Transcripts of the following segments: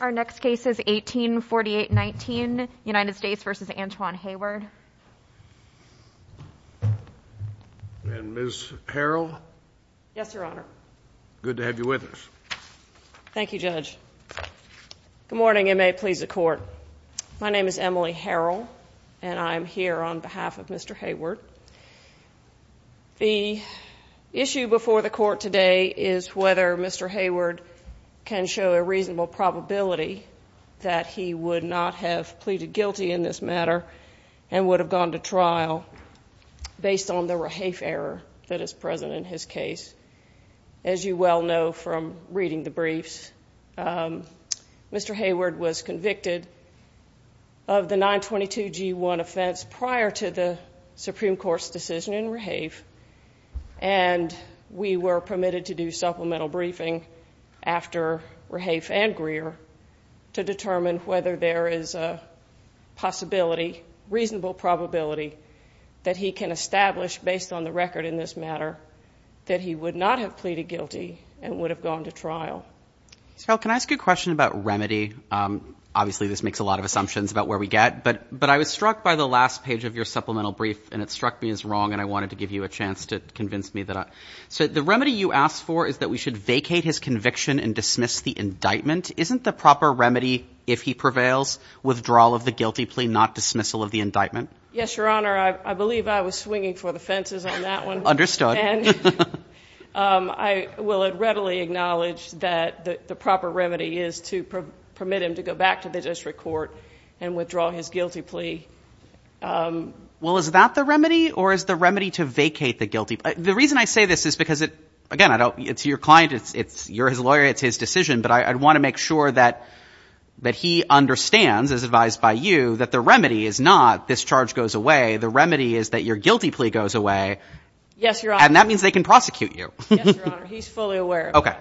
Our next case is 1848-19, United States v. Antwan Heyward. And Ms. Harrell? Yes, Your Honor. Good to have you with us. Thank you, Judge. Good morning, and may it please the Court. My name is Emily Harrell, and I am here on behalf of Mr. Heyward. The issue before the Court today is whether Mr. Heyward can show a reasonable probability that he would not have pleaded guilty in this matter and would have gone to trial based on the rehafe error that is present in his case. As you well know from reading the briefs, Mr. Heyward was convicted of the 922G1 offense prior to the Supreme Court's decision in rehafe, and we were permitted to do supplemental briefing after rehafe and Greer to determine whether there is a possibility, reasonable probability, that he can establish based on the record in this matter that he would not have pleaded guilty and would have gone to trial. Ms. Harrell, can I ask you a question about remedy? Obviously, this makes a lot of assumptions about where we get, but I was struck by the last page of your supplemental brief, and it struck me as wrong, and I wanted to give you a chance to convince me. So the remedy you asked for is that we should vacate his conviction and dismiss the indictment. Isn't the proper remedy, if he prevails, withdrawal of the guilty plea, not dismissal of the indictment? Yes, Your Honor. I believe I was swinging for the fences on that one. Understood. And I will readily acknowledge that the proper remedy is to permit him to go back to the district court and withdraw his guilty plea. Well, is that the remedy, or is the remedy to vacate the guilty plea? The reason I say this is because, again, it's your client. You're his lawyer. It's his decision, but I want to make sure that he understands, as advised by you, that the remedy is not this charge goes away. The remedy is that your guilty plea goes away. Yes, Your Honor. And that means they can prosecute you. Yes, Your Honor. He's fully aware of that.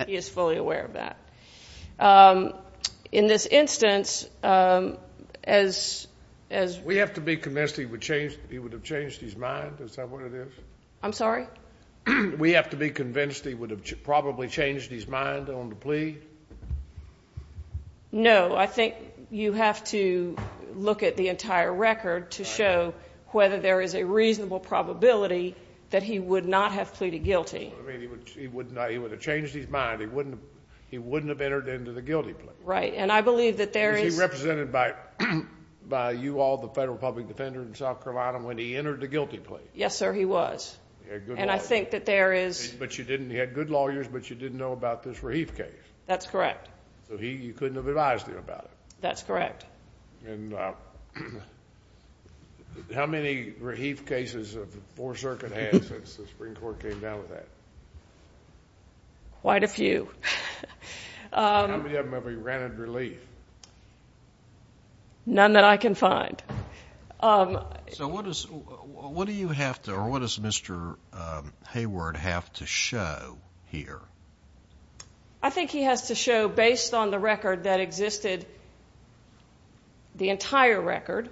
Okay. He is fully aware of that. In this instance, as we have to be convinced he would have changed his mind. Is that what it is? I'm sorry? We have to be convinced he would have probably changed his mind on the plea? No. I think you have to look at the entire record to show whether there is a reasonable probability that he would not have pleaded guilty. I mean, he would have changed his mind. He wouldn't have entered into the guilty plea. Right. And I believe that there is – Was he represented by you all, the federal public defender in South Carolina, when he entered the guilty plea? Yes, sir, he was. He had good lawyers. And I think that there is – But you didn't – he had good lawyers, but you didn't know about this Raheef case. That's correct. So you couldn't have advised him about it? That's correct. And how many Raheef cases has the Fourth Circuit had since the Supreme Court came down with that? Quite a few. How many of them have he granted relief? None that I can find. So what does – what do you have to – or what does Mr. Hayward have to show here? I think he has to show, based on the record that existed – the entire record,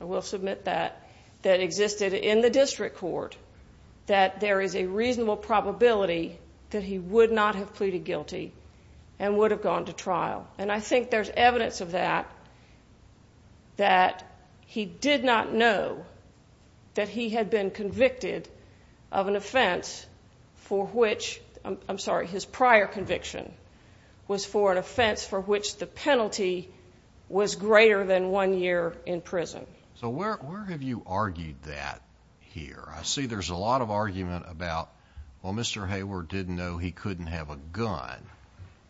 I will submit that, that existed in the district court, that there is a reasonable probability that he would not have pleaded guilty and would have gone to trial. And I think there's evidence of that, that he did not know that he had been convicted of an offense for which – I'm sorry, his prior conviction was for an offense for which the penalty was greater than one year in prison. So where have you argued that here? I see there's a lot of argument about, well, Mr. Hayward didn't know he couldn't have a gun.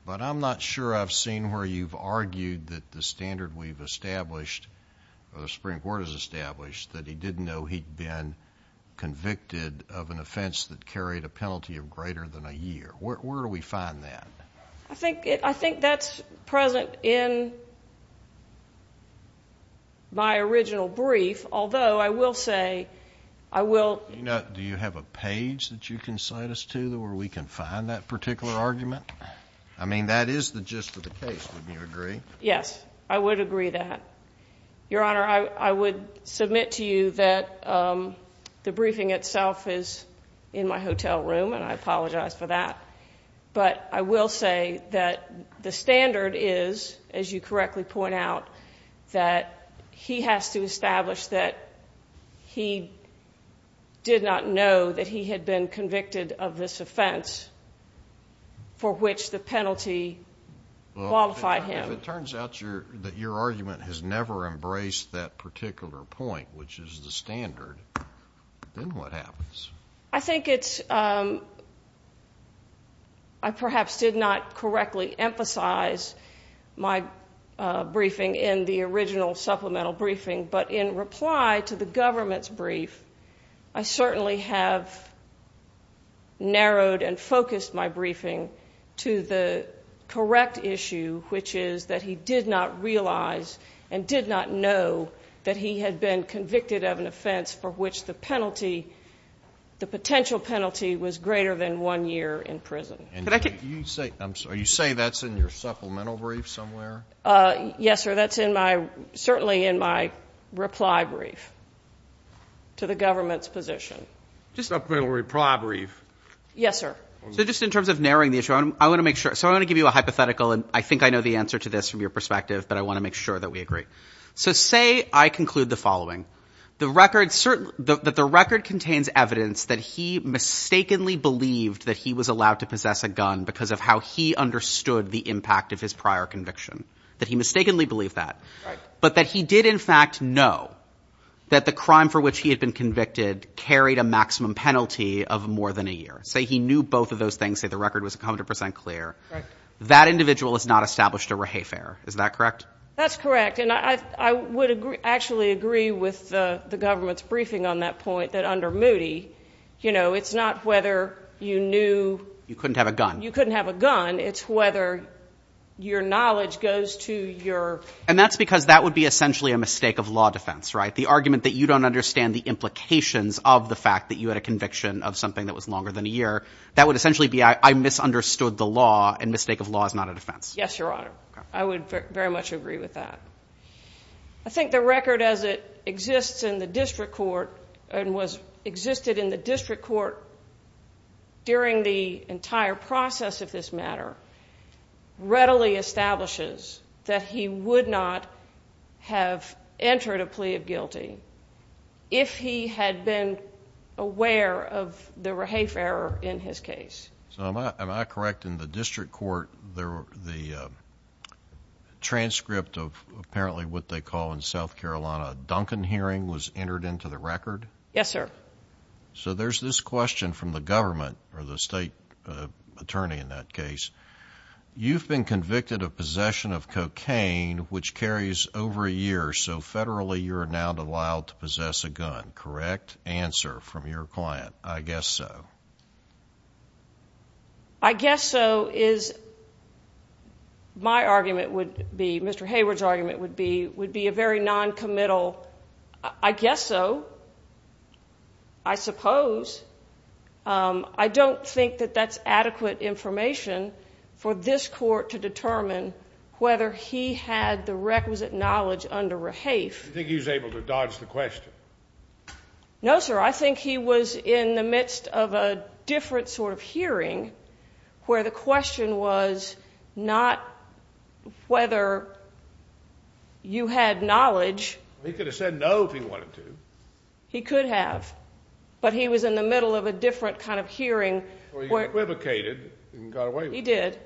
But I'm not sure I've seen where you've argued that the standard we've established, or the Supreme Court has established, that he didn't know he'd been convicted of an offense that carried a penalty of greater than a year. Where do we find that? I think that's present in my original brief, although I will say, I will – Do you have a page that you can cite us to where we can find that particular argument? I mean, that is the gist of the case, wouldn't you agree? Yes, I would agree that. Your Honor, I would submit to you that the briefing itself is in my hotel room, and I apologize for that. But I will say that the standard is, as you correctly point out, that he has to establish that he did not know that he had been convicted of this offense for which the penalty qualified him. If it turns out that your argument has never embraced that particular point, which is the standard, then what happens? I think it's – I perhaps did not correctly emphasize my briefing in the original supplemental briefing, but in reply to the government's brief, I certainly have narrowed and focused my briefing to the correct issue, which is that he did not realize and did not know that he had been convicted of an offense for which the penalty, the potential penalty, was greater than one year in prison. Can I get – Are you saying that's in your supplemental brief somewhere? Yes, sir, that's in my – certainly in my reply brief to the government's position. Just a reply brief. Yes, sir. So just in terms of narrowing the issue, I want to make sure – so I want to give you a hypothetical, and I think I know the answer to this from your perspective, but I want to make sure that we agree. So say I conclude the following. The record – that the record contains evidence that he mistakenly believed that he was allowed to possess a gun because of how he understood the impact of his prior conviction, that he mistakenly believed that. Right. But that he did, in fact, know that the crime for which he had been convicted carried a maximum penalty of more than a year. Say he knew both of those things. Say the record was 100 percent clear. Right. That individual has not established a rehafer. Is that correct? That's correct, and I would actually agree with the government's briefing on that point, that under Moody, you know, it's not whether you knew – You couldn't have a gun. You couldn't have a gun. It's whether your knowledge goes to your – And that's because that would be essentially a mistake of law defense, right? The argument that you don't understand the implications of the fact that you had a conviction of something that was longer than a year, that would essentially be I misunderstood the law, and mistake of law is not a defense. Yes, Your Honor. I would very much agree with that. I think the record as it exists in the district court and was existed in the district court during the entire process of this matter readily establishes that he would not have entered a plea of guilty if he had been aware of the rehafer in his case. So am I correct in the district court, the transcript of apparently what they call in South Carolina a Duncan hearing was entered into the record? Yes, sir. So there's this question from the government or the state attorney in that case. You've been convicted of possession of cocaine which carries over a year, so federally you're now allowed to possess a gun, correct? I guess so. I guess so is my argument would be, Mr. Hayward's argument would be a very noncommittal, I guess so, I suppose. I don't think that that's adequate information for this court to determine whether he had the requisite knowledge under rehafe. Do you think he was able to dodge the question? No, sir. I think he was in the midst of a different sort of hearing where the question was not whether you had knowledge. He could have said no if he wanted to. He could have, but he was in the middle of a different kind of hearing. He equivocated and got away with it. He did.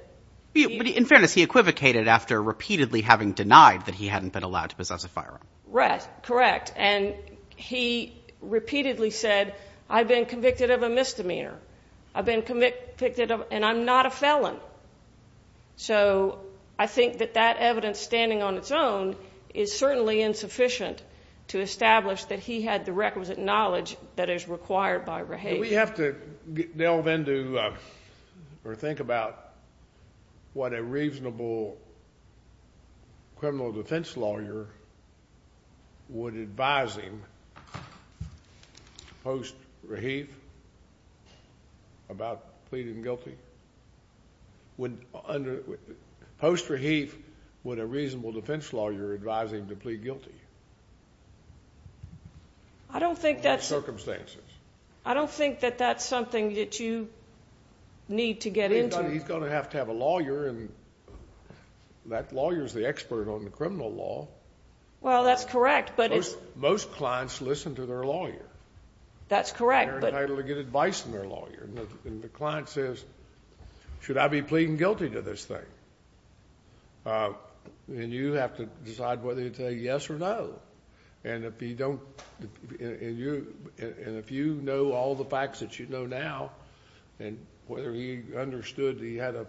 In fairness, he equivocated after repeatedly having denied that he hadn't been allowed to possess a firearm. Correct. And he repeatedly said, I've been convicted of a misdemeanor. I've been convicted and I'm not a felon. So I think that that evidence standing on its own is certainly insufficient to establish that he had the requisite knowledge that is required by rehafe. Do we have to delve into or think about what a reasonable criminal defense lawyer would advise him post-rehafe about pleading guilty? Post-rehafe, would a reasonable defense lawyer advise him to plead guilty? I don't think that's... Under what circumstances? I don't think that that's something that you need to get into. He's going to have to have a lawyer, and that lawyer is the expert on the criminal law. Well, that's correct, but it's... Most clients listen to their lawyer. That's correct, but... And they're entitled to get advice from their lawyer. And the client says, should I be pleading guilty to this thing? And you have to decide whether you say yes or no. And if you don't... and if you know all the facts that you know now, and whether he understood he had a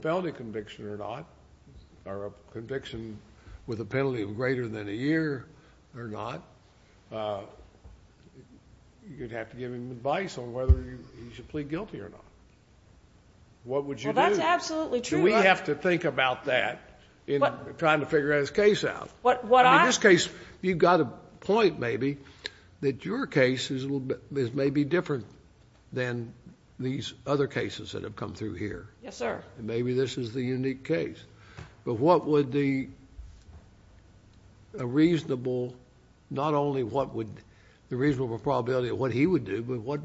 felony conviction or not, or a conviction with a penalty of greater than a year or not, you'd have to give him advice on whether he should plead guilty or not. What would you do? Well, that's absolutely true, but... We have to think about that in trying to figure out his case out. What I... In this case, you've got a point maybe that your case is maybe different than these other cases that have come through here. Yes, sir. Maybe this is the unique case. But what would a reasonable... not only the reasonable probability of what he would do, but what's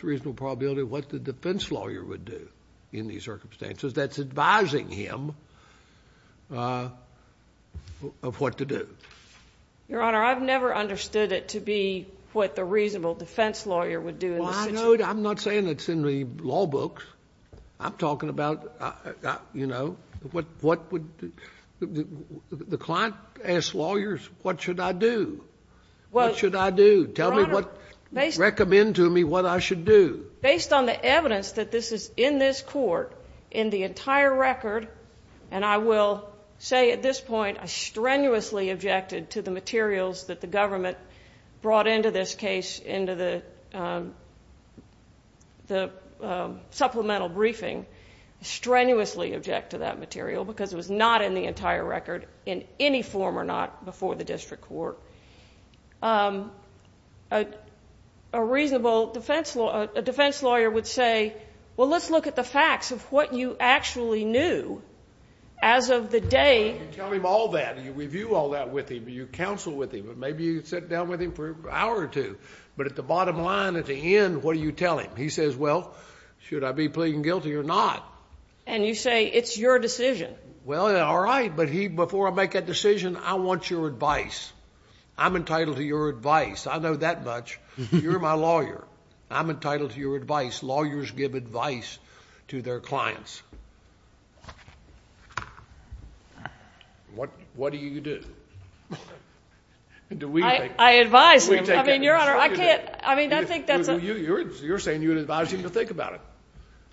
the reasonable probability of what the defense lawyer would do in these circumstances that's advising him... of what to do? Your Honor, I've never understood it to be what the reasonable defense lawyer would do in this situation. Well, I know. I'm not saying it's in the law books. I'm talking about, you know, what would... The client asks lawyers, what should I do? What should I do? Tell me what... Your Honor, based... Recommend to me what I should do. Based on the evidence that this is in this court, in the entire record, and I will say at this point I strenuously objected to the materials that the government brought into this case, into the supplemental briefing, strenuously objected to that material because it was not in the entire record in any form or not before the district court. A reasonable defense lawyer would say, well, let's look at the facts of what you actually knew as of the day... You tell him all that. You review all that with him. You counsel with him. Maybe you sit down with him for an hour or two. But at the bottom line, at the end, what do you tell him? He says, well, should I be pleading guilty or not? And you say it's your decision. Well, all right. But before I make that decision, I want your advice. I'm entitled to your advice. I know that much. You're my lawyer. I'm entitled to your advice. Lawyers give advice to their clients. What do you do? Do we take it? I advise him. I mean, Your Honor, I can't... You're saying you advise him to think about it.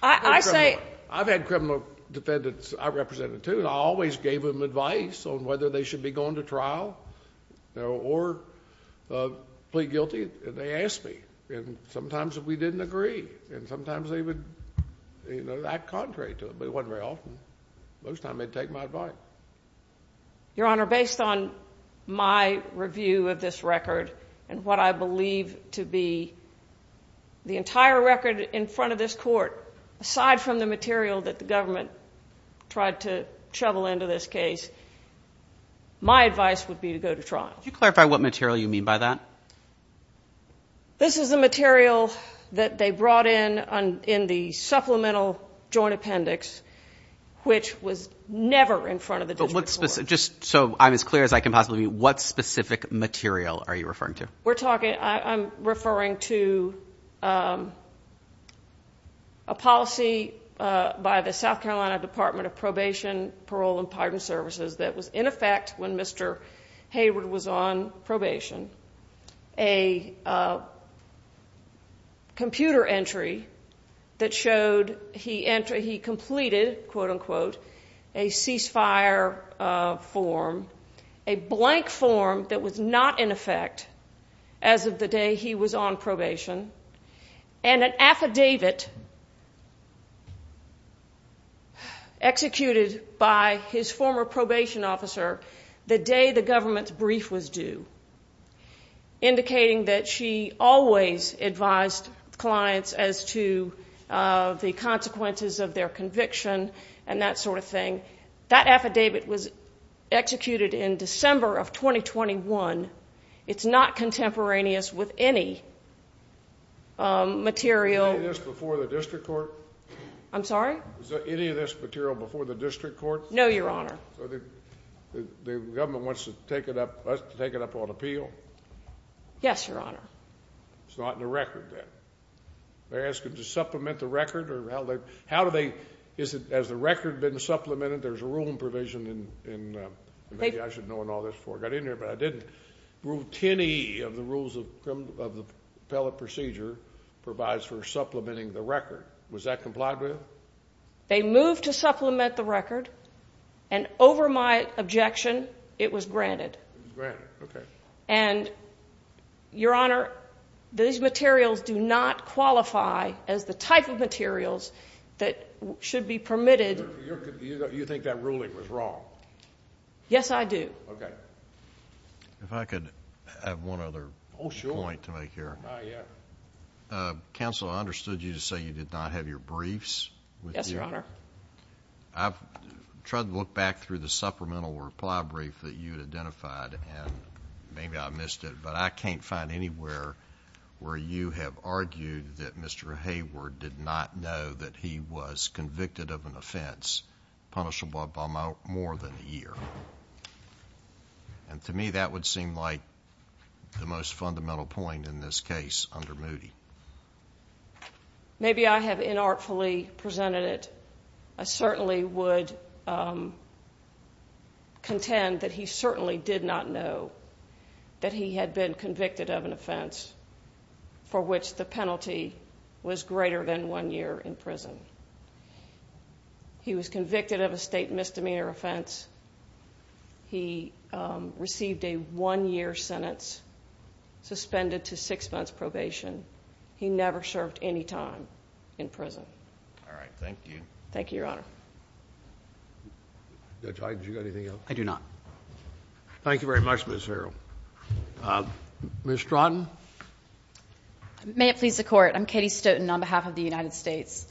I say... I've had criminal defendants I represented too, and I always gave them advice on whether they should be going to trial or plead guilty, and they asked me. And sometimes we didn't agree, and sometimes they would act contrary to it. But it wasn't very often. Most of the time, they'd take my advice. Your Honor, based on my review of this record and what I believe to be the entire record in front of this court, aside from the material that the government tried to shovel into this case, my advice would be to go to trial. Could you clarify what material you mean by that? This is the material that they brought in in the supplemental joint appendix, which was never in front of the district court. Just so I'm as clear as I can possibly be, what specific material are you referring to? I'm referring to a policy by the South Carolina Department of Probation, Parole, and Pardon Services that was in effect when Mr. Hayward was on probation, a computer entry that showed he completed, quote-unquote, a cease-fire form, a blank form that was not in effect as of the day he was on probation, and an affidavit executed by his former probation officer the day the government's brief was due, indicating that she always advised clients as to the consequences of their conviction and that sort of thing. That affidavit was executed in December of 2021. It's not contemporaneous with any material. Was any of this before the district court? I'm sorry? Was any of this material before the district court? No, Your Honor. So the government wants to take it up on appeal? Yes, Your Honor. It's not in the record then. They're asking to supplement the record? Has the record been supplemented? There's a ruling provision, and maybe I should know all this before I got in here, but I didn't rule any of the rules of the appellate procedure provides for supplementing the record. Was that complied with? They moved to supplement the record, and over my objection, it was granted. It was granted, okay. And, Your Honor, these materials do not qualify as the type of materials that should be permitted. You think that ruling was wrong? Yes, I do. Okay. If I could have one other point to make here. Oh, sure. Oh, yeah. Counsel, I understood you to say you did not have your briefs with you. Yes, Your Honor. I've tried to look back through the supplemental reply brief that you had identified, and maybe I missed it, but I can't find anywhere where you have argued that Mr. Hayward did not know that he was convicted of an offense punishable by more than a year. And to me, that would seem like the most fundamental point in this case under Moody. Maybe I have inartfully presented it. I certainly would contend that he certainly did not know that he had been convicted of an offense for which the penalty was greater than one year in prison. He was convicted of a state misdemeanor offense. He received a one-year sentence suspended to six months probation. He never served any time in prison. Thank you. Thank you, Your Honor. Judge Hayden, do you have anything else? I do not. Thank you very much, Ms. Harrell. Ms. Stratton? May it please the Court. I'm Katie Stoughton on behalf of the United States.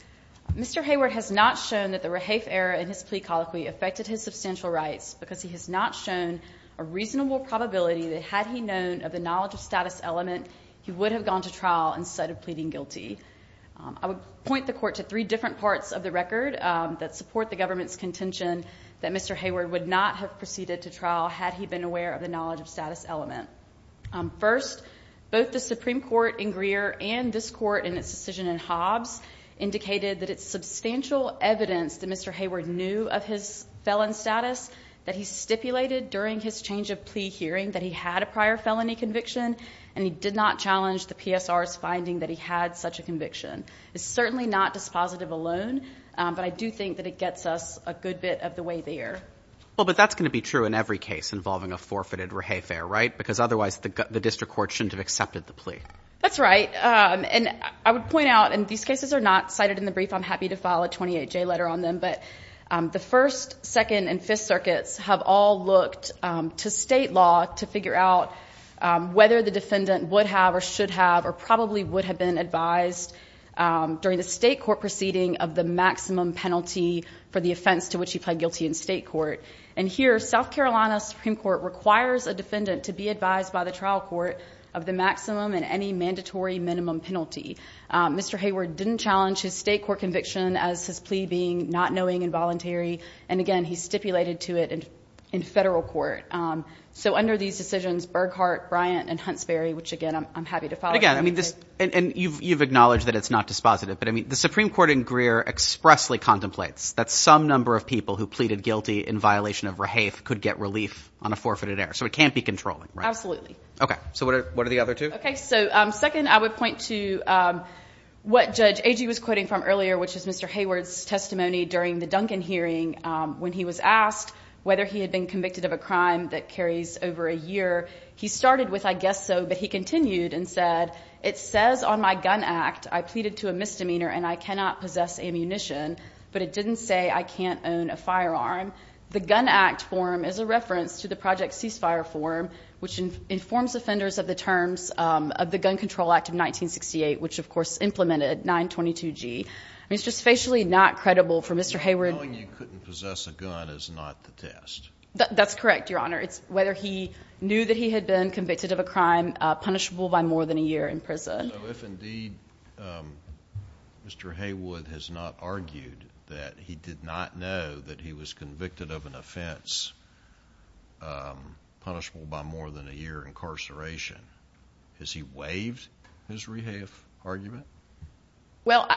Mr. Hayward has not shown that the Rahaf error in his plea colloquy affected his substantial rights because he has not shown a reasonable probability that had he known of the knowledge of status element, he would have gone to trial instead of pleading guilty. I would point the Court to three different parts of the record that support the government's contention that Mr. Hayward would not have proceeded to trial had he been aware of the knowledge of status element. First, both the Supreme Court in Greer and this Court in its decision in Hobbs indicated that it's substantial evidence that Mr. Hayward knew of his felon status, that he stipulated during his change of plea hearing that he had a prior felony conviction, and he did not challenge the PSR's finding that he had such a conviction. It's certainly not dispositive alone, but I do think that it gets us a good bit of the way there. Well, but that's going to be true in every case involving a forfeited Rahaf error, right? Because otherwise the district court shouldn't have accepted the plea. That's right. And I would point out, and these cases are not cited in the brief. I'm happy to file a 28-J letter on them. But the First, Second, and Fifth Circuits have all looked to state law to figure out whether the defendant would have or should have or probably would have been advised during the state court proceeding of the maximum penalty for the offense to which he pled guilty in state court. And here, South Carolina Supreme Court requires a defendant to be advised by the trial court of the maximum and any mandatory minimum penalty. Mr. Hayward didn't challenge his state court conviction as his plea being not knowing and voluntary. And, again, he stipulated to it in federal court. So under these decisions, Burghardt, Bryant, and Huntsbury, which, again, I'm happy to file a 28-J. And you've acknowledged that it's not dispositive. But, I mean, the Supreme Court in Greer expressly contemplates that some number of people who pleaded guilty in violation of Rahaf could get relief on a forfeited error. So it can't be controlling, right? Absolutely. Okay. So what are the other two? Okay. So, second, I would point to what Judge Agee was quoting from earlier, which is Mr. Hayward's testimony during the Duncan hearing when he was asked whether he had been convicted of a crime that carries over a year. He started with, I guess so, but he continued and said, it says on my gun act I pleaded to a misdemeanor and I cannot possess ammunition. But it didn't say I can't own a firearm. The gun act form is a reference to the Project Ceasefire form, which informs offenders of the terms of the Gun Control Act of 1968, which, of course, implemented 922G. I mean, it's just facially not credible for Mr. Hayward. So telling you couldn't possess a gun is not the test. That's correct, Your Honor. It's whether he knew that he had been convicted of a crime punishable by more than a year in prison. So if, indeed, Mr. Hayward has not argued that he did not know that he was convicted of an offense punishable by more than a year incarceration, has he waived his rehave argument? Well,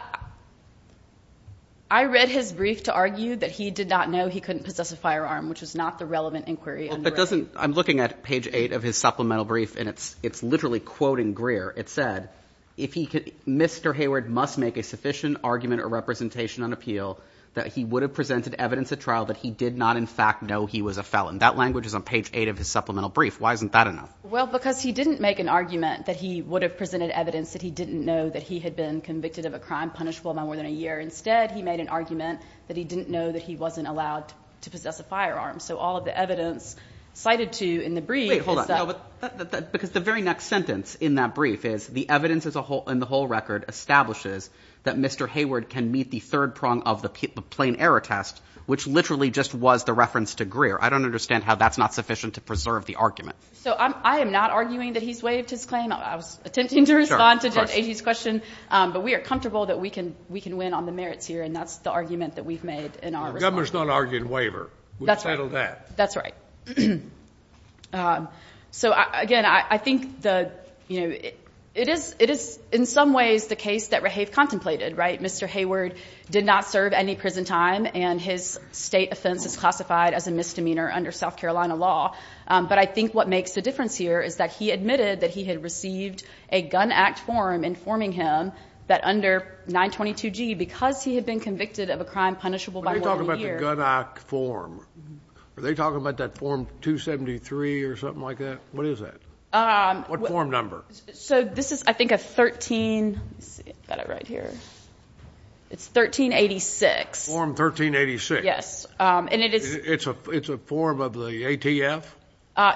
I read his brief to argue that he did not know he couldn't possess a firearm, which is not the relevant inquiry under it. I'm looking at page 8 of his supplemental brief, and it's literally quoting Greer. It said, Mr. Hayward must make a sufficient argument or representation on appeal that he would have presented evidence at trial that he did not in fact know he was a felon. That language is on page 8 of his supplemental brief. Why isn't that enough? Well, because he didn't make an argument that he would have presented evidence that he didn't know that he had been convicted of a crime punishable by more than a year. Instead, he made an argument that he didn't know that he wasn't allowed to possess a firearm. So all of the evidence cited to in the brief is that— Wait. Hold on. No, because the very next sentence in that brief is the evidence in the whole record establishes that Mr. Hayward can meet the third prong of the plain error test, which literally just was the reference to Greer. I don't understand how that's not sufficient to preserve the argument. So I am not arguing that he's waived his claim. I was attempting to respond to Judge Agee's question. But we are comfortable that we can win on the merits here, and that's the argument that we've made in our response. The governor's not arguing waiver. That's right. We've settled that. That's right. So, again, I think it is in some ways the case that Rahave contemplated, right? Mr. Hayward did not serve any prison time, and his state offense is classified as a misdemeanor under South Carolina law. But I think what makes the difference here is that he admitted that he had received a gun act form informing him that under 922G, because he had been convicted of a crime punishable by one year. What are you talking about the gun act form? Are they talking about that form 273 or something like that? What is that? What form number? So this is, I think, a 13. Let's see. I've got it right here. It's 1386. Form 1386. Yes. And it is. It's a form of the ATF?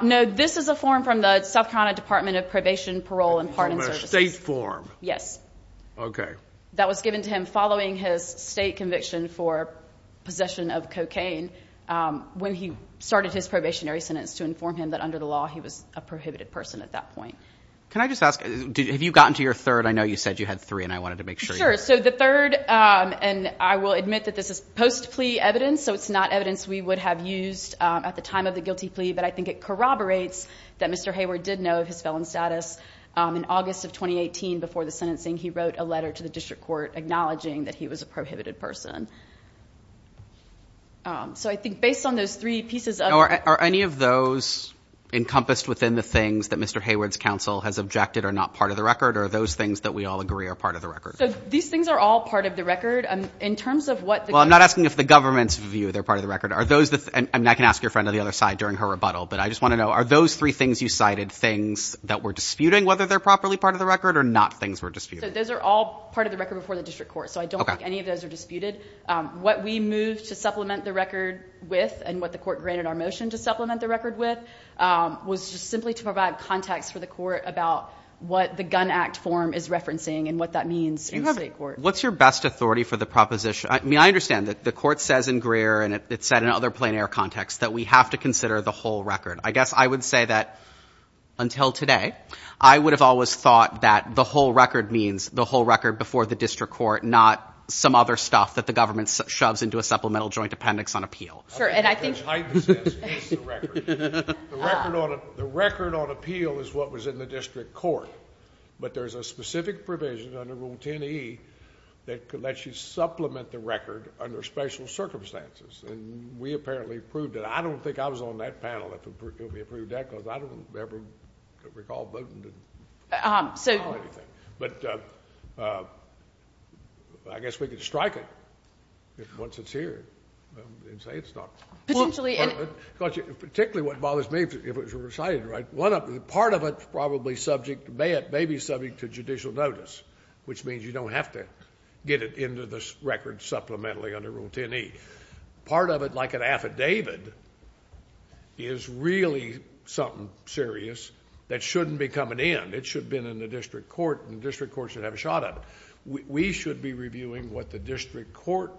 No. This is a form from the South Carolina Department of Probation, Parole, and Pardon Services. A state form. Yes. Okay. That was given to him following his state conviction for possession of cocaine when he started his probationary sentence to inform him that under the law he was a prohibited person at that point. Can I just ask, have you gotten to your third? I know you said you had three, and I wanted to make sure. Sure. So the third, and I will admit that this is post-plea evidence, so it's not evidence we would have used at the time of the guilty plea, but I think it corroborates that Mr. Hayward did know of his felon status. In August of 2018, before the sentencing, he wrote a letter to the district court acknowledging that he was a prohibited person. So I think based on those three pieces of it ---- Are any of those encompassed within the things that Mr. Hayward's counsel has objected are not part of the record, or are those things that we all agree are part of the record? So these things are all part of the record. In terms of what the ---- I can ask your friend on the other side during her rebuttal, but I just want to know are those three things you cited things that were disputing whether they're properly part of the record or not things were disputed? Those are all part of the record before the district court, so I don't think any of those are disputed. What we moved to supplement the record with and what the court granted our motion to supplement the record with was just simply to provide context for the court about what the gun act form is referencing and what that means in the state court. What's your best authority for the proposition? I mean, I understand that the court says in Greer and it said in other plein air contexts that we have to consider the whole record. I guess I would say that until today I would have always thought that the whole record means the whole record before the district court, not some other stuff that the government shoves into a supplemental joint appendix on appeal. Sure, and I think ---- The record on appeal is what was in the district court, but there's a specific provision under Rule 10e that could let you supplement the record under special circumstances, and we apparently approved it. I don't think I was on that panel if we approved that because I don't ever recall voting to do anything. But I guess we could strike it once it's here and say it's not. Potentially in ---- Because particularly what bothers me if it's recited right, part of it may be subject to judicial notice, which means you don't have to get it into the record supplementally under Rule 10e. Part of it, like an affidavit, is really something serious that shouldn't be coming in. It should have been in the district court, and the district court should have a shot at it. We should be reviewing what the district court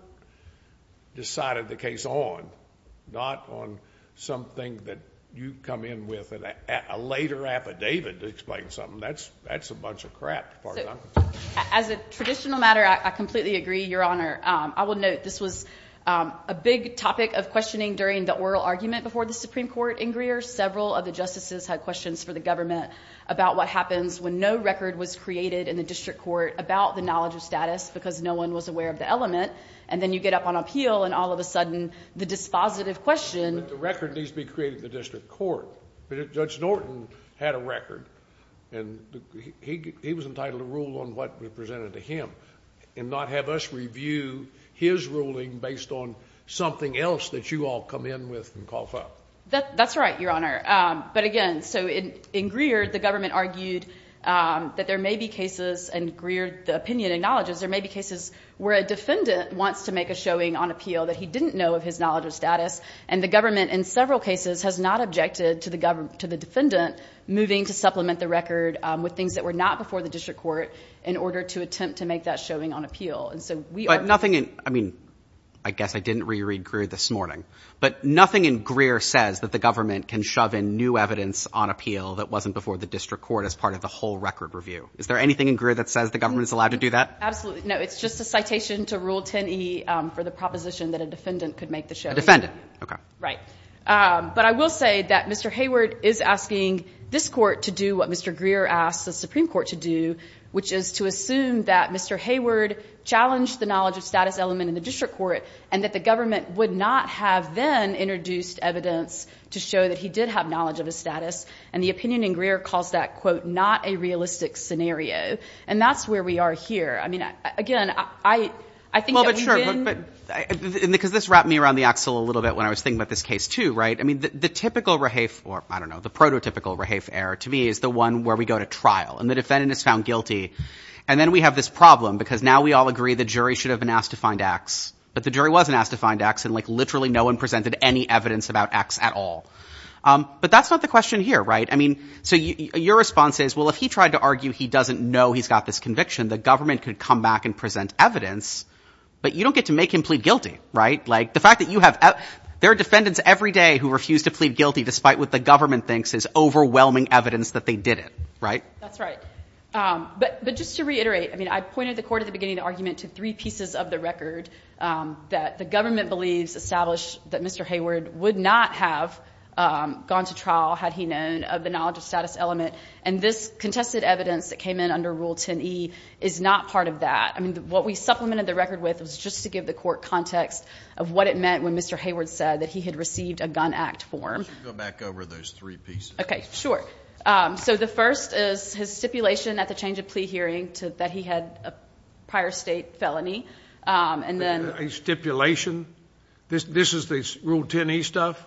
decided the case on, not on something that you come in with a later affidavit to explain something. That's a bunch of crap. As a traditional matter, I completely agree, Your Honor. I will note this was a big topic of questioning during the oral argument before the Supreme Court in Greer. Several of the justices had questions for the government about what happens when no record was created in the district court about the knowledge of status because no one was aware of the element, and then you get up on appeal and all of a sudden the dispositive question ---- But the record needs to be created in the district court. Judge Norton had a record, and he was entitled to rule on what was presented to him and not have us review his ruling based on something else that you all come in with and cough up. That's right, Your Honor. But again, so in Greer, the government argued that there may be cases, and Greer, the opinion acknowledges, there may be cases where a defendant wants to make a showing on appeal that he didn't know of his knowledge of status, and the government in several cases has not objected to the defendant moving to supplement the record with things that were not before the district court in order to attempt to make that showing on appeal. But nothing in ---- I mean, I guess I didn't reread Greer this morning, but nothing in Greer says that the government can shove in new evidence on appeal that wasn't before the district court as part of the whole record review. Is there anything in Greer that says the government is allowed to do that? Absolutely. No, it's just a citation to Rule 10e for the proposition that a defendant could make the showing. A defendant. Right. But I will say that Mr. Hayward is asking this court to do what Mr. Greer asked the Supreme Court to do, which is to assume that Mr. Hayward challenged the knowledge of status element in the district court and that the government would not have then introduced evidence to show that he did have knowledge of his status, and the opinion in Greer calls that, quote, not a realistic scenario. And that's where we are here. I mean, again, I think that we've been ---- Well, but sure. Because this wrapped me around the axle a little bit when I was thinking about this case too, right? I mean, the typical rehafe or, I don't know, the prototypical rehafe error to me is the one where we go to trial and the defendant is found guilty. And then we have this problem because now we all agree the jury should have been asked to find X, but the jury wasn't asked to find X and, like, literally no one presented any evidence about X at all. But that's not the question here, right? I mean, so your response is, well, if he tried to argue he doesn't know he's got this conviction, the government could come back and present evidence, but you don't get to make him plead guilty, right? Like, the fact that you have ---- There are defendants every day who refuse to plead guilty despite what the government thinks is overwhelming evidence that they did it, right? That's right. But just to reiterate, I mean, I pointed the court at the beginning of the argument to three pieces of the record that the government believes established that Mr. Hayward would not have gone to trial had he known of the knowledge of status element. And this contested evidence that came in under Rule 10e is not part of that. I mean, what we supplemented the record with was just to give the court context of what it meant when Mr. Hayward said that he had received a gun act form. Go back over those three pieces. Okay, sure. So the first is his stipulation at the change of plea hearing that he had a prior state felony. A stipulation? This is the Rule 10e stuff?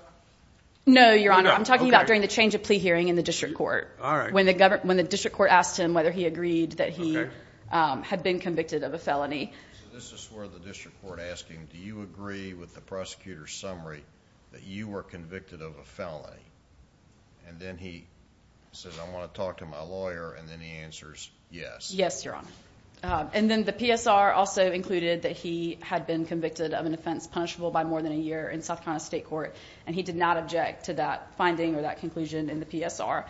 No, Your Honor. I'm talking about during the change of plea hearing in the district court. All right. When the district court asked him whether he agreed that he had been convicted of a felony. So this is where the district court asked him, do you agree with the prosecutor's summary that you were convicted of a felony? And then he says, I want to talk to my lawyer, and then he answers yes. Yes, Your Honor. And then the PSR also included that he had been convicted of an offense punishable by more than a year in South Carolina State Court, and he did not object to that finding or that conclusion in the PSR.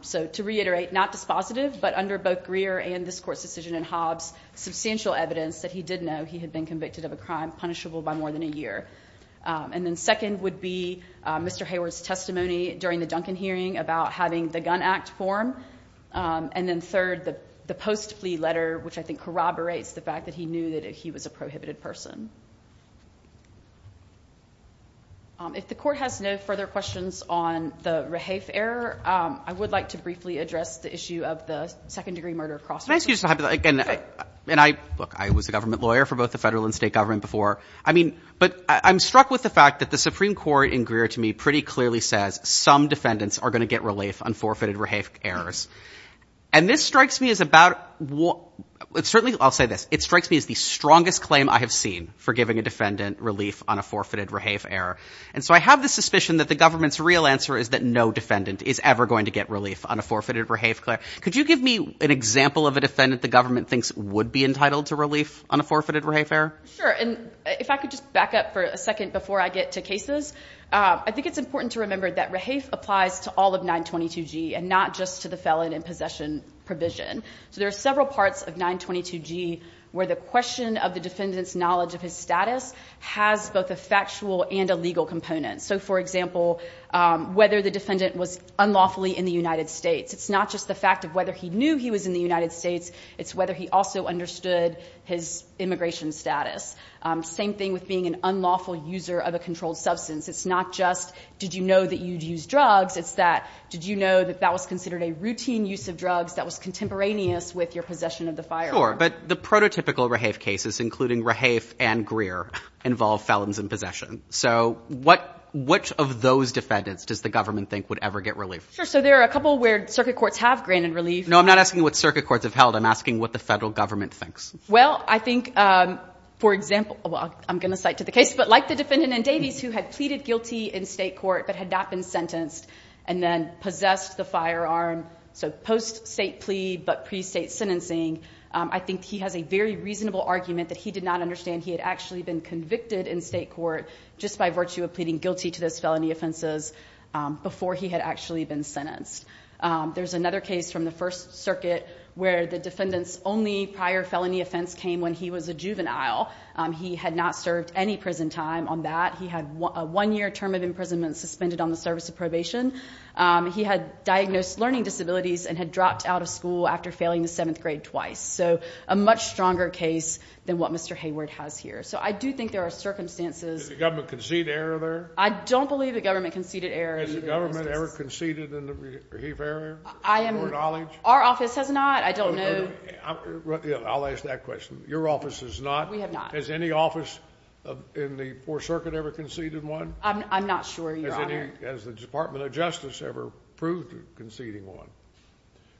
So to reiterate, not dispositive, but under both Greer and this court's decision in Hobbs, substantial evidence that he did know he had been convicted of a crime punishable by more than a year. And then second would be Mr. Hayward's testimony during the Duncan hearing about having the gun act form. And then third, the post-plea letter, which I think corroborates the fact that he knew that he was a prohibited person. If the court has no further questions on the Rahafe error, I would like to briefly address the issue of the second-degree murder cross-examination. Look, I was a government lawyer for both the federal and state government before. But I'm struck with the fact that the Supreme Court in Greer to me pretty clearly says some defendants are going to get relief on forfeited Rahafe errors. And this strikes me as about – certainly I'll say this. It strikes me as the strongest claim I have seen for giving a defendant relief on a forfeited Rahafe error. And so I have the suspicion that the government's real answer is that no defendant is ever going to get relief on a forfeited Rahafe error. Could you give me an example of a defendant the government thinks would be entitled to relief on a forfeited Rahafe error? Sure. And if I could just back up for a second before I get to cases. I think it's important to remember that Rahafe applies to all of 922G and not just to the felon in possession provision. So there are several parts of 922G where the question of the defendant's knowledge of his status has both a factual and a legal component. So, for example, whether the defendant was unlawfully in the United States. It's not just the fact of whether he knew he was in the United States. It's whether he also understood his immigration status. Same thing with being an unlawful user of a controlled substance. It's not just did you know that you'd use drugs. It's that did you know that that was considered a routine use of drugs that was contemporaneous with your possession of the firearm. But the prototypical Rahafe cases, including Rahafe and Greer, involve felons in possession. So what which of those defendants does the government think would ever get relief? So there are a couple where circuit courts have granted relief. No, I'm not asking what circuit courts have held. I'm asking what the federal government thinks. Well, I think, for example, I'm going to cite to the case, but like the defendant in Davies who had pleaded guilty in state court but had not been sentenced and then possessed the firearm, so post-state plea but pre-state sentencing, I think he has a very reasonable argument that he did not understand he had actually been convicted in state court just by virtue of pleading guilty to those felony offenses before he had actually been sentenced. There's another case from the First Circuit where the defendant's only prior felony offense came when he was a juvenile. He had not served any prison time on that. He had a one-year term of imprisonment suspended on the service of probation. He had diagnosed learning disabilities and had dropped out of school after failing the seventh grade twice. So a much stronger case than what Mr. Hayward has here. So I do think there are circumstances. Does the government concede error there? I don't believe the government conceded error. Has the government ever conceded a re-heap error to your knowledge? Our office has not. I don't know. I'll ask that question. Your office has not? We have not. Has any office in the Fourth Circuit ever conceded one? I'm not sure, Your Honor. Has the Department of Justice ever proved conceding one?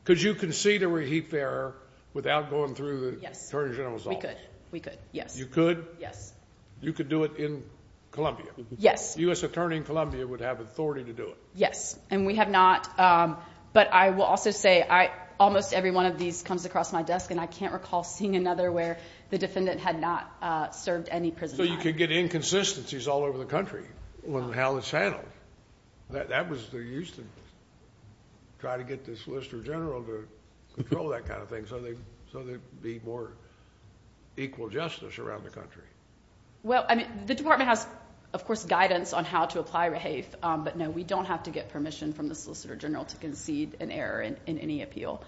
Could you concede a re-heap error without going through the Attorney General's office? We could. You could? Yes. You could do it in Columbia? Yes. The U.S. Attorney in Columbia would have authority to do it? Yes, and we have not. But I will also say almost every one of these comes across my desk, and I can't recall seeing another where the defendant had not served any prison time. So you could get inconsistencies all over the country when the hell is handled? That was used to try to get the Solicitor General to control that kind of thing so there would be more equal justice around the country. Well, the Department has, of course, guidance on how to apply re-heap, but, no, we don't have to get permission from the Solicitor General to concede an error in any appeal.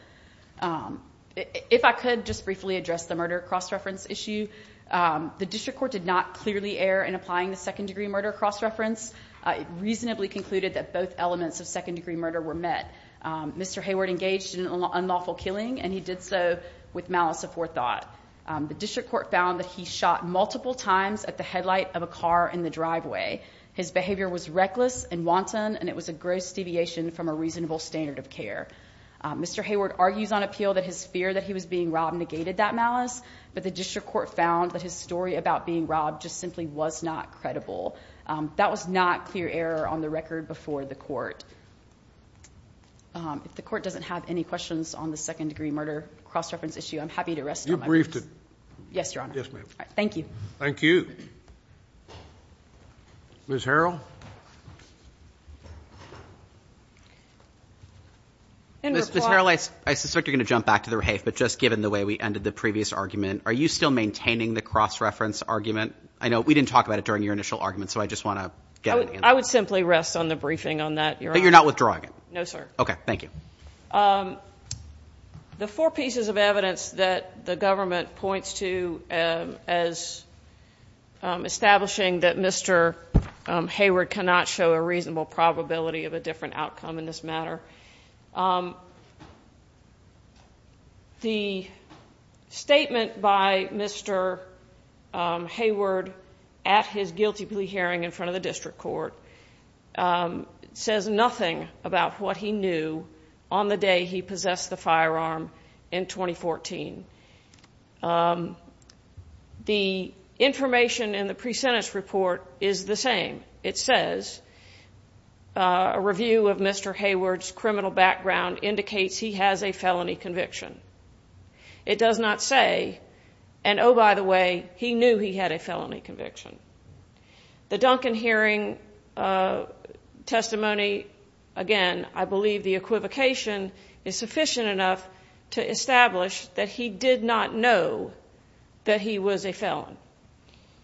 If I could just briefly address the murder cross-reference issue. The district court did not clearly err in applying the second-degree murder cross-reference. It reasonably concluded that both elements of second-degree murder were met. Mr. Hayward engaged in an unlawful killing, and he did so with malice aforethought. The district court found that he shot multiple times at the headlight of a car in the driveway. His behavior was reckless and wanton, and it was a gross deviation from a reasonable standard of care. Mr. Hayward argues on appeal that his fear that he was being robbed negated that malice, but the district court found that his story about being robbed just simply was not credible. That was not clear error on the record before the court. If the court doesn't have any questions on the second-degree murder cross-reference issue, I'm happy to rest on my boots. You briefed it. Yes, Your Honor. Yes, ma'am. Thank you. Thank you. Ms. Harrell? Ms. Harrell, I suspect you're going to jump back to the rehafe, but just given the way we ended the previous argument, are you still maintaining the cross-reference argument? I know we didn't talk about it during your initial argument, so I just want to get an answer. I would simply rest on the briefing on that, Your Honor. But you're not withdrawing it? No, sir. Okay. Thank you. The four pieces of evidence that the government points to as establishing that Mr. Hayward cannot show a reasonable probability of a different outcome in this matter, the statement by Mr. Hayward at his guilty plea hearing in front of the district court says nothing about what he knew on the day he possessed the firearm in 2014. The information in the pre-sentence report is the same. It says a review of Mr. Hayward's criminal background indicates he has a felony conviction. It does not say, and oh, by the way, he knew he had a felony conviction. The Duncan hearing testimony, again, I believe the equivocation is sufficient enough to establish that he did not know that he was a felon.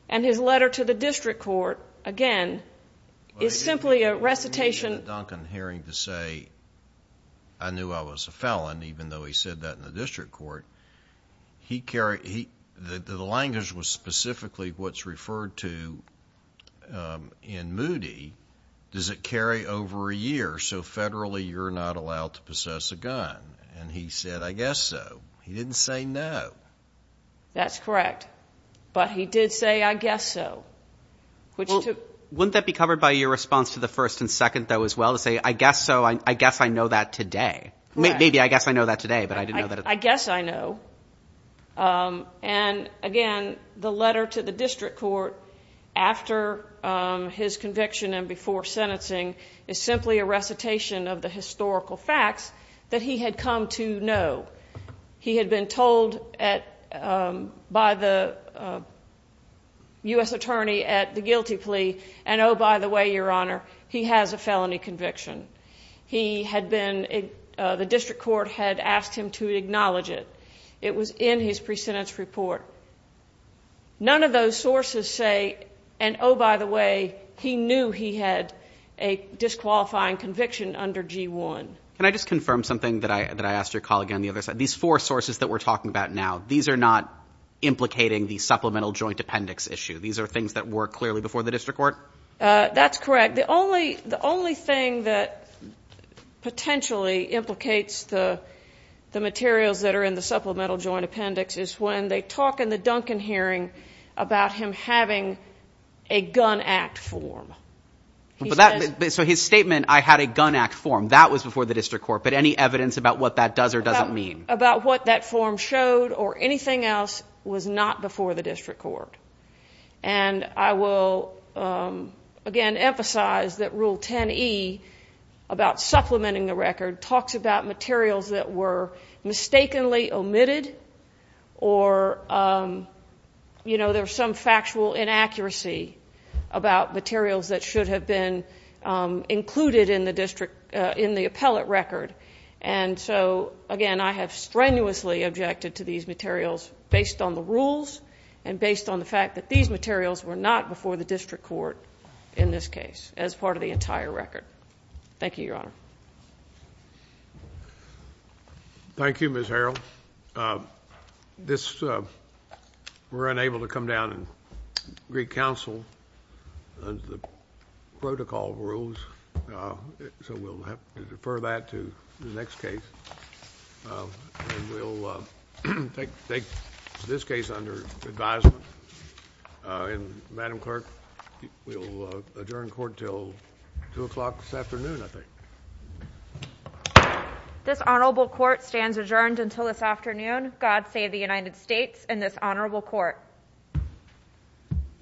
And his letter to the district court, again, is simply a recitation... Well, if you look at the Duncan hearing to say, I knew I was a felon, even though he said that in the district court, the language was specifically what's referred to in Moody, does it carry over a year, so federally you're not allowed to possess a gun? And he said, I guess so. He didn't say no. That's correct. But he did say, I guess so. Wouldn't that be covered by your response to the first and second, though, as well, to say, I guess so, I guess I know that today? Maybe I guess I know that today, but I didn't know that... I guess I know. And, again, the letter to the district court after his conviction and before sentencing is simply a recitation of the historical facts that he had come to know. He had been told by the U.S. attorney at the guilty plea, and oh, by the way, Your Honor, he has a felony conviction. He had been... the district court had asked him to acknowledge it. It was in his pre-sentence report. None of those sources say, and oh, by the way, he knew he had a disqualifying conviction under G-1. Can I just confirm something that I asked your colleague on the other side? These four sources that we're talking about now, these are not implicating the supplemental joint appendix issue. These are things that were clearly before the district court? That's correct. The only thing that potentially implicates the materials that are in the supplemental joint appendix is when they talk in the Duncan hearing about him having a gun act form. So his statement, I had a gun act form, that was before the district court, but any evidence about what that does or doesn't mean? About what that form showed or anything else was not before the district court. And I will, again, emphasize that Rule 10E about supplementing the record talks about materials that were mistakenly omitted or there was some factual inaccuracy about materials that should have been included in the district, in the appellate record. And so, again, I have strenuously objected to these materials based on the rules and based on the fact that these materials were not before the district court in this case as part of the entire record. Thank you, Your Honor. Thank you, Ms. Harrell. We're unable to come down and greet counsel under the protocol rules, so we'll have to defer that to the next case. And we'll take this case under advisement. And, Madam Clerk, we'll adjourn court until 2 o'clock this afternoon, I think. This honorable court stands adjourned until this afternoon. God save the United States and this honorable court.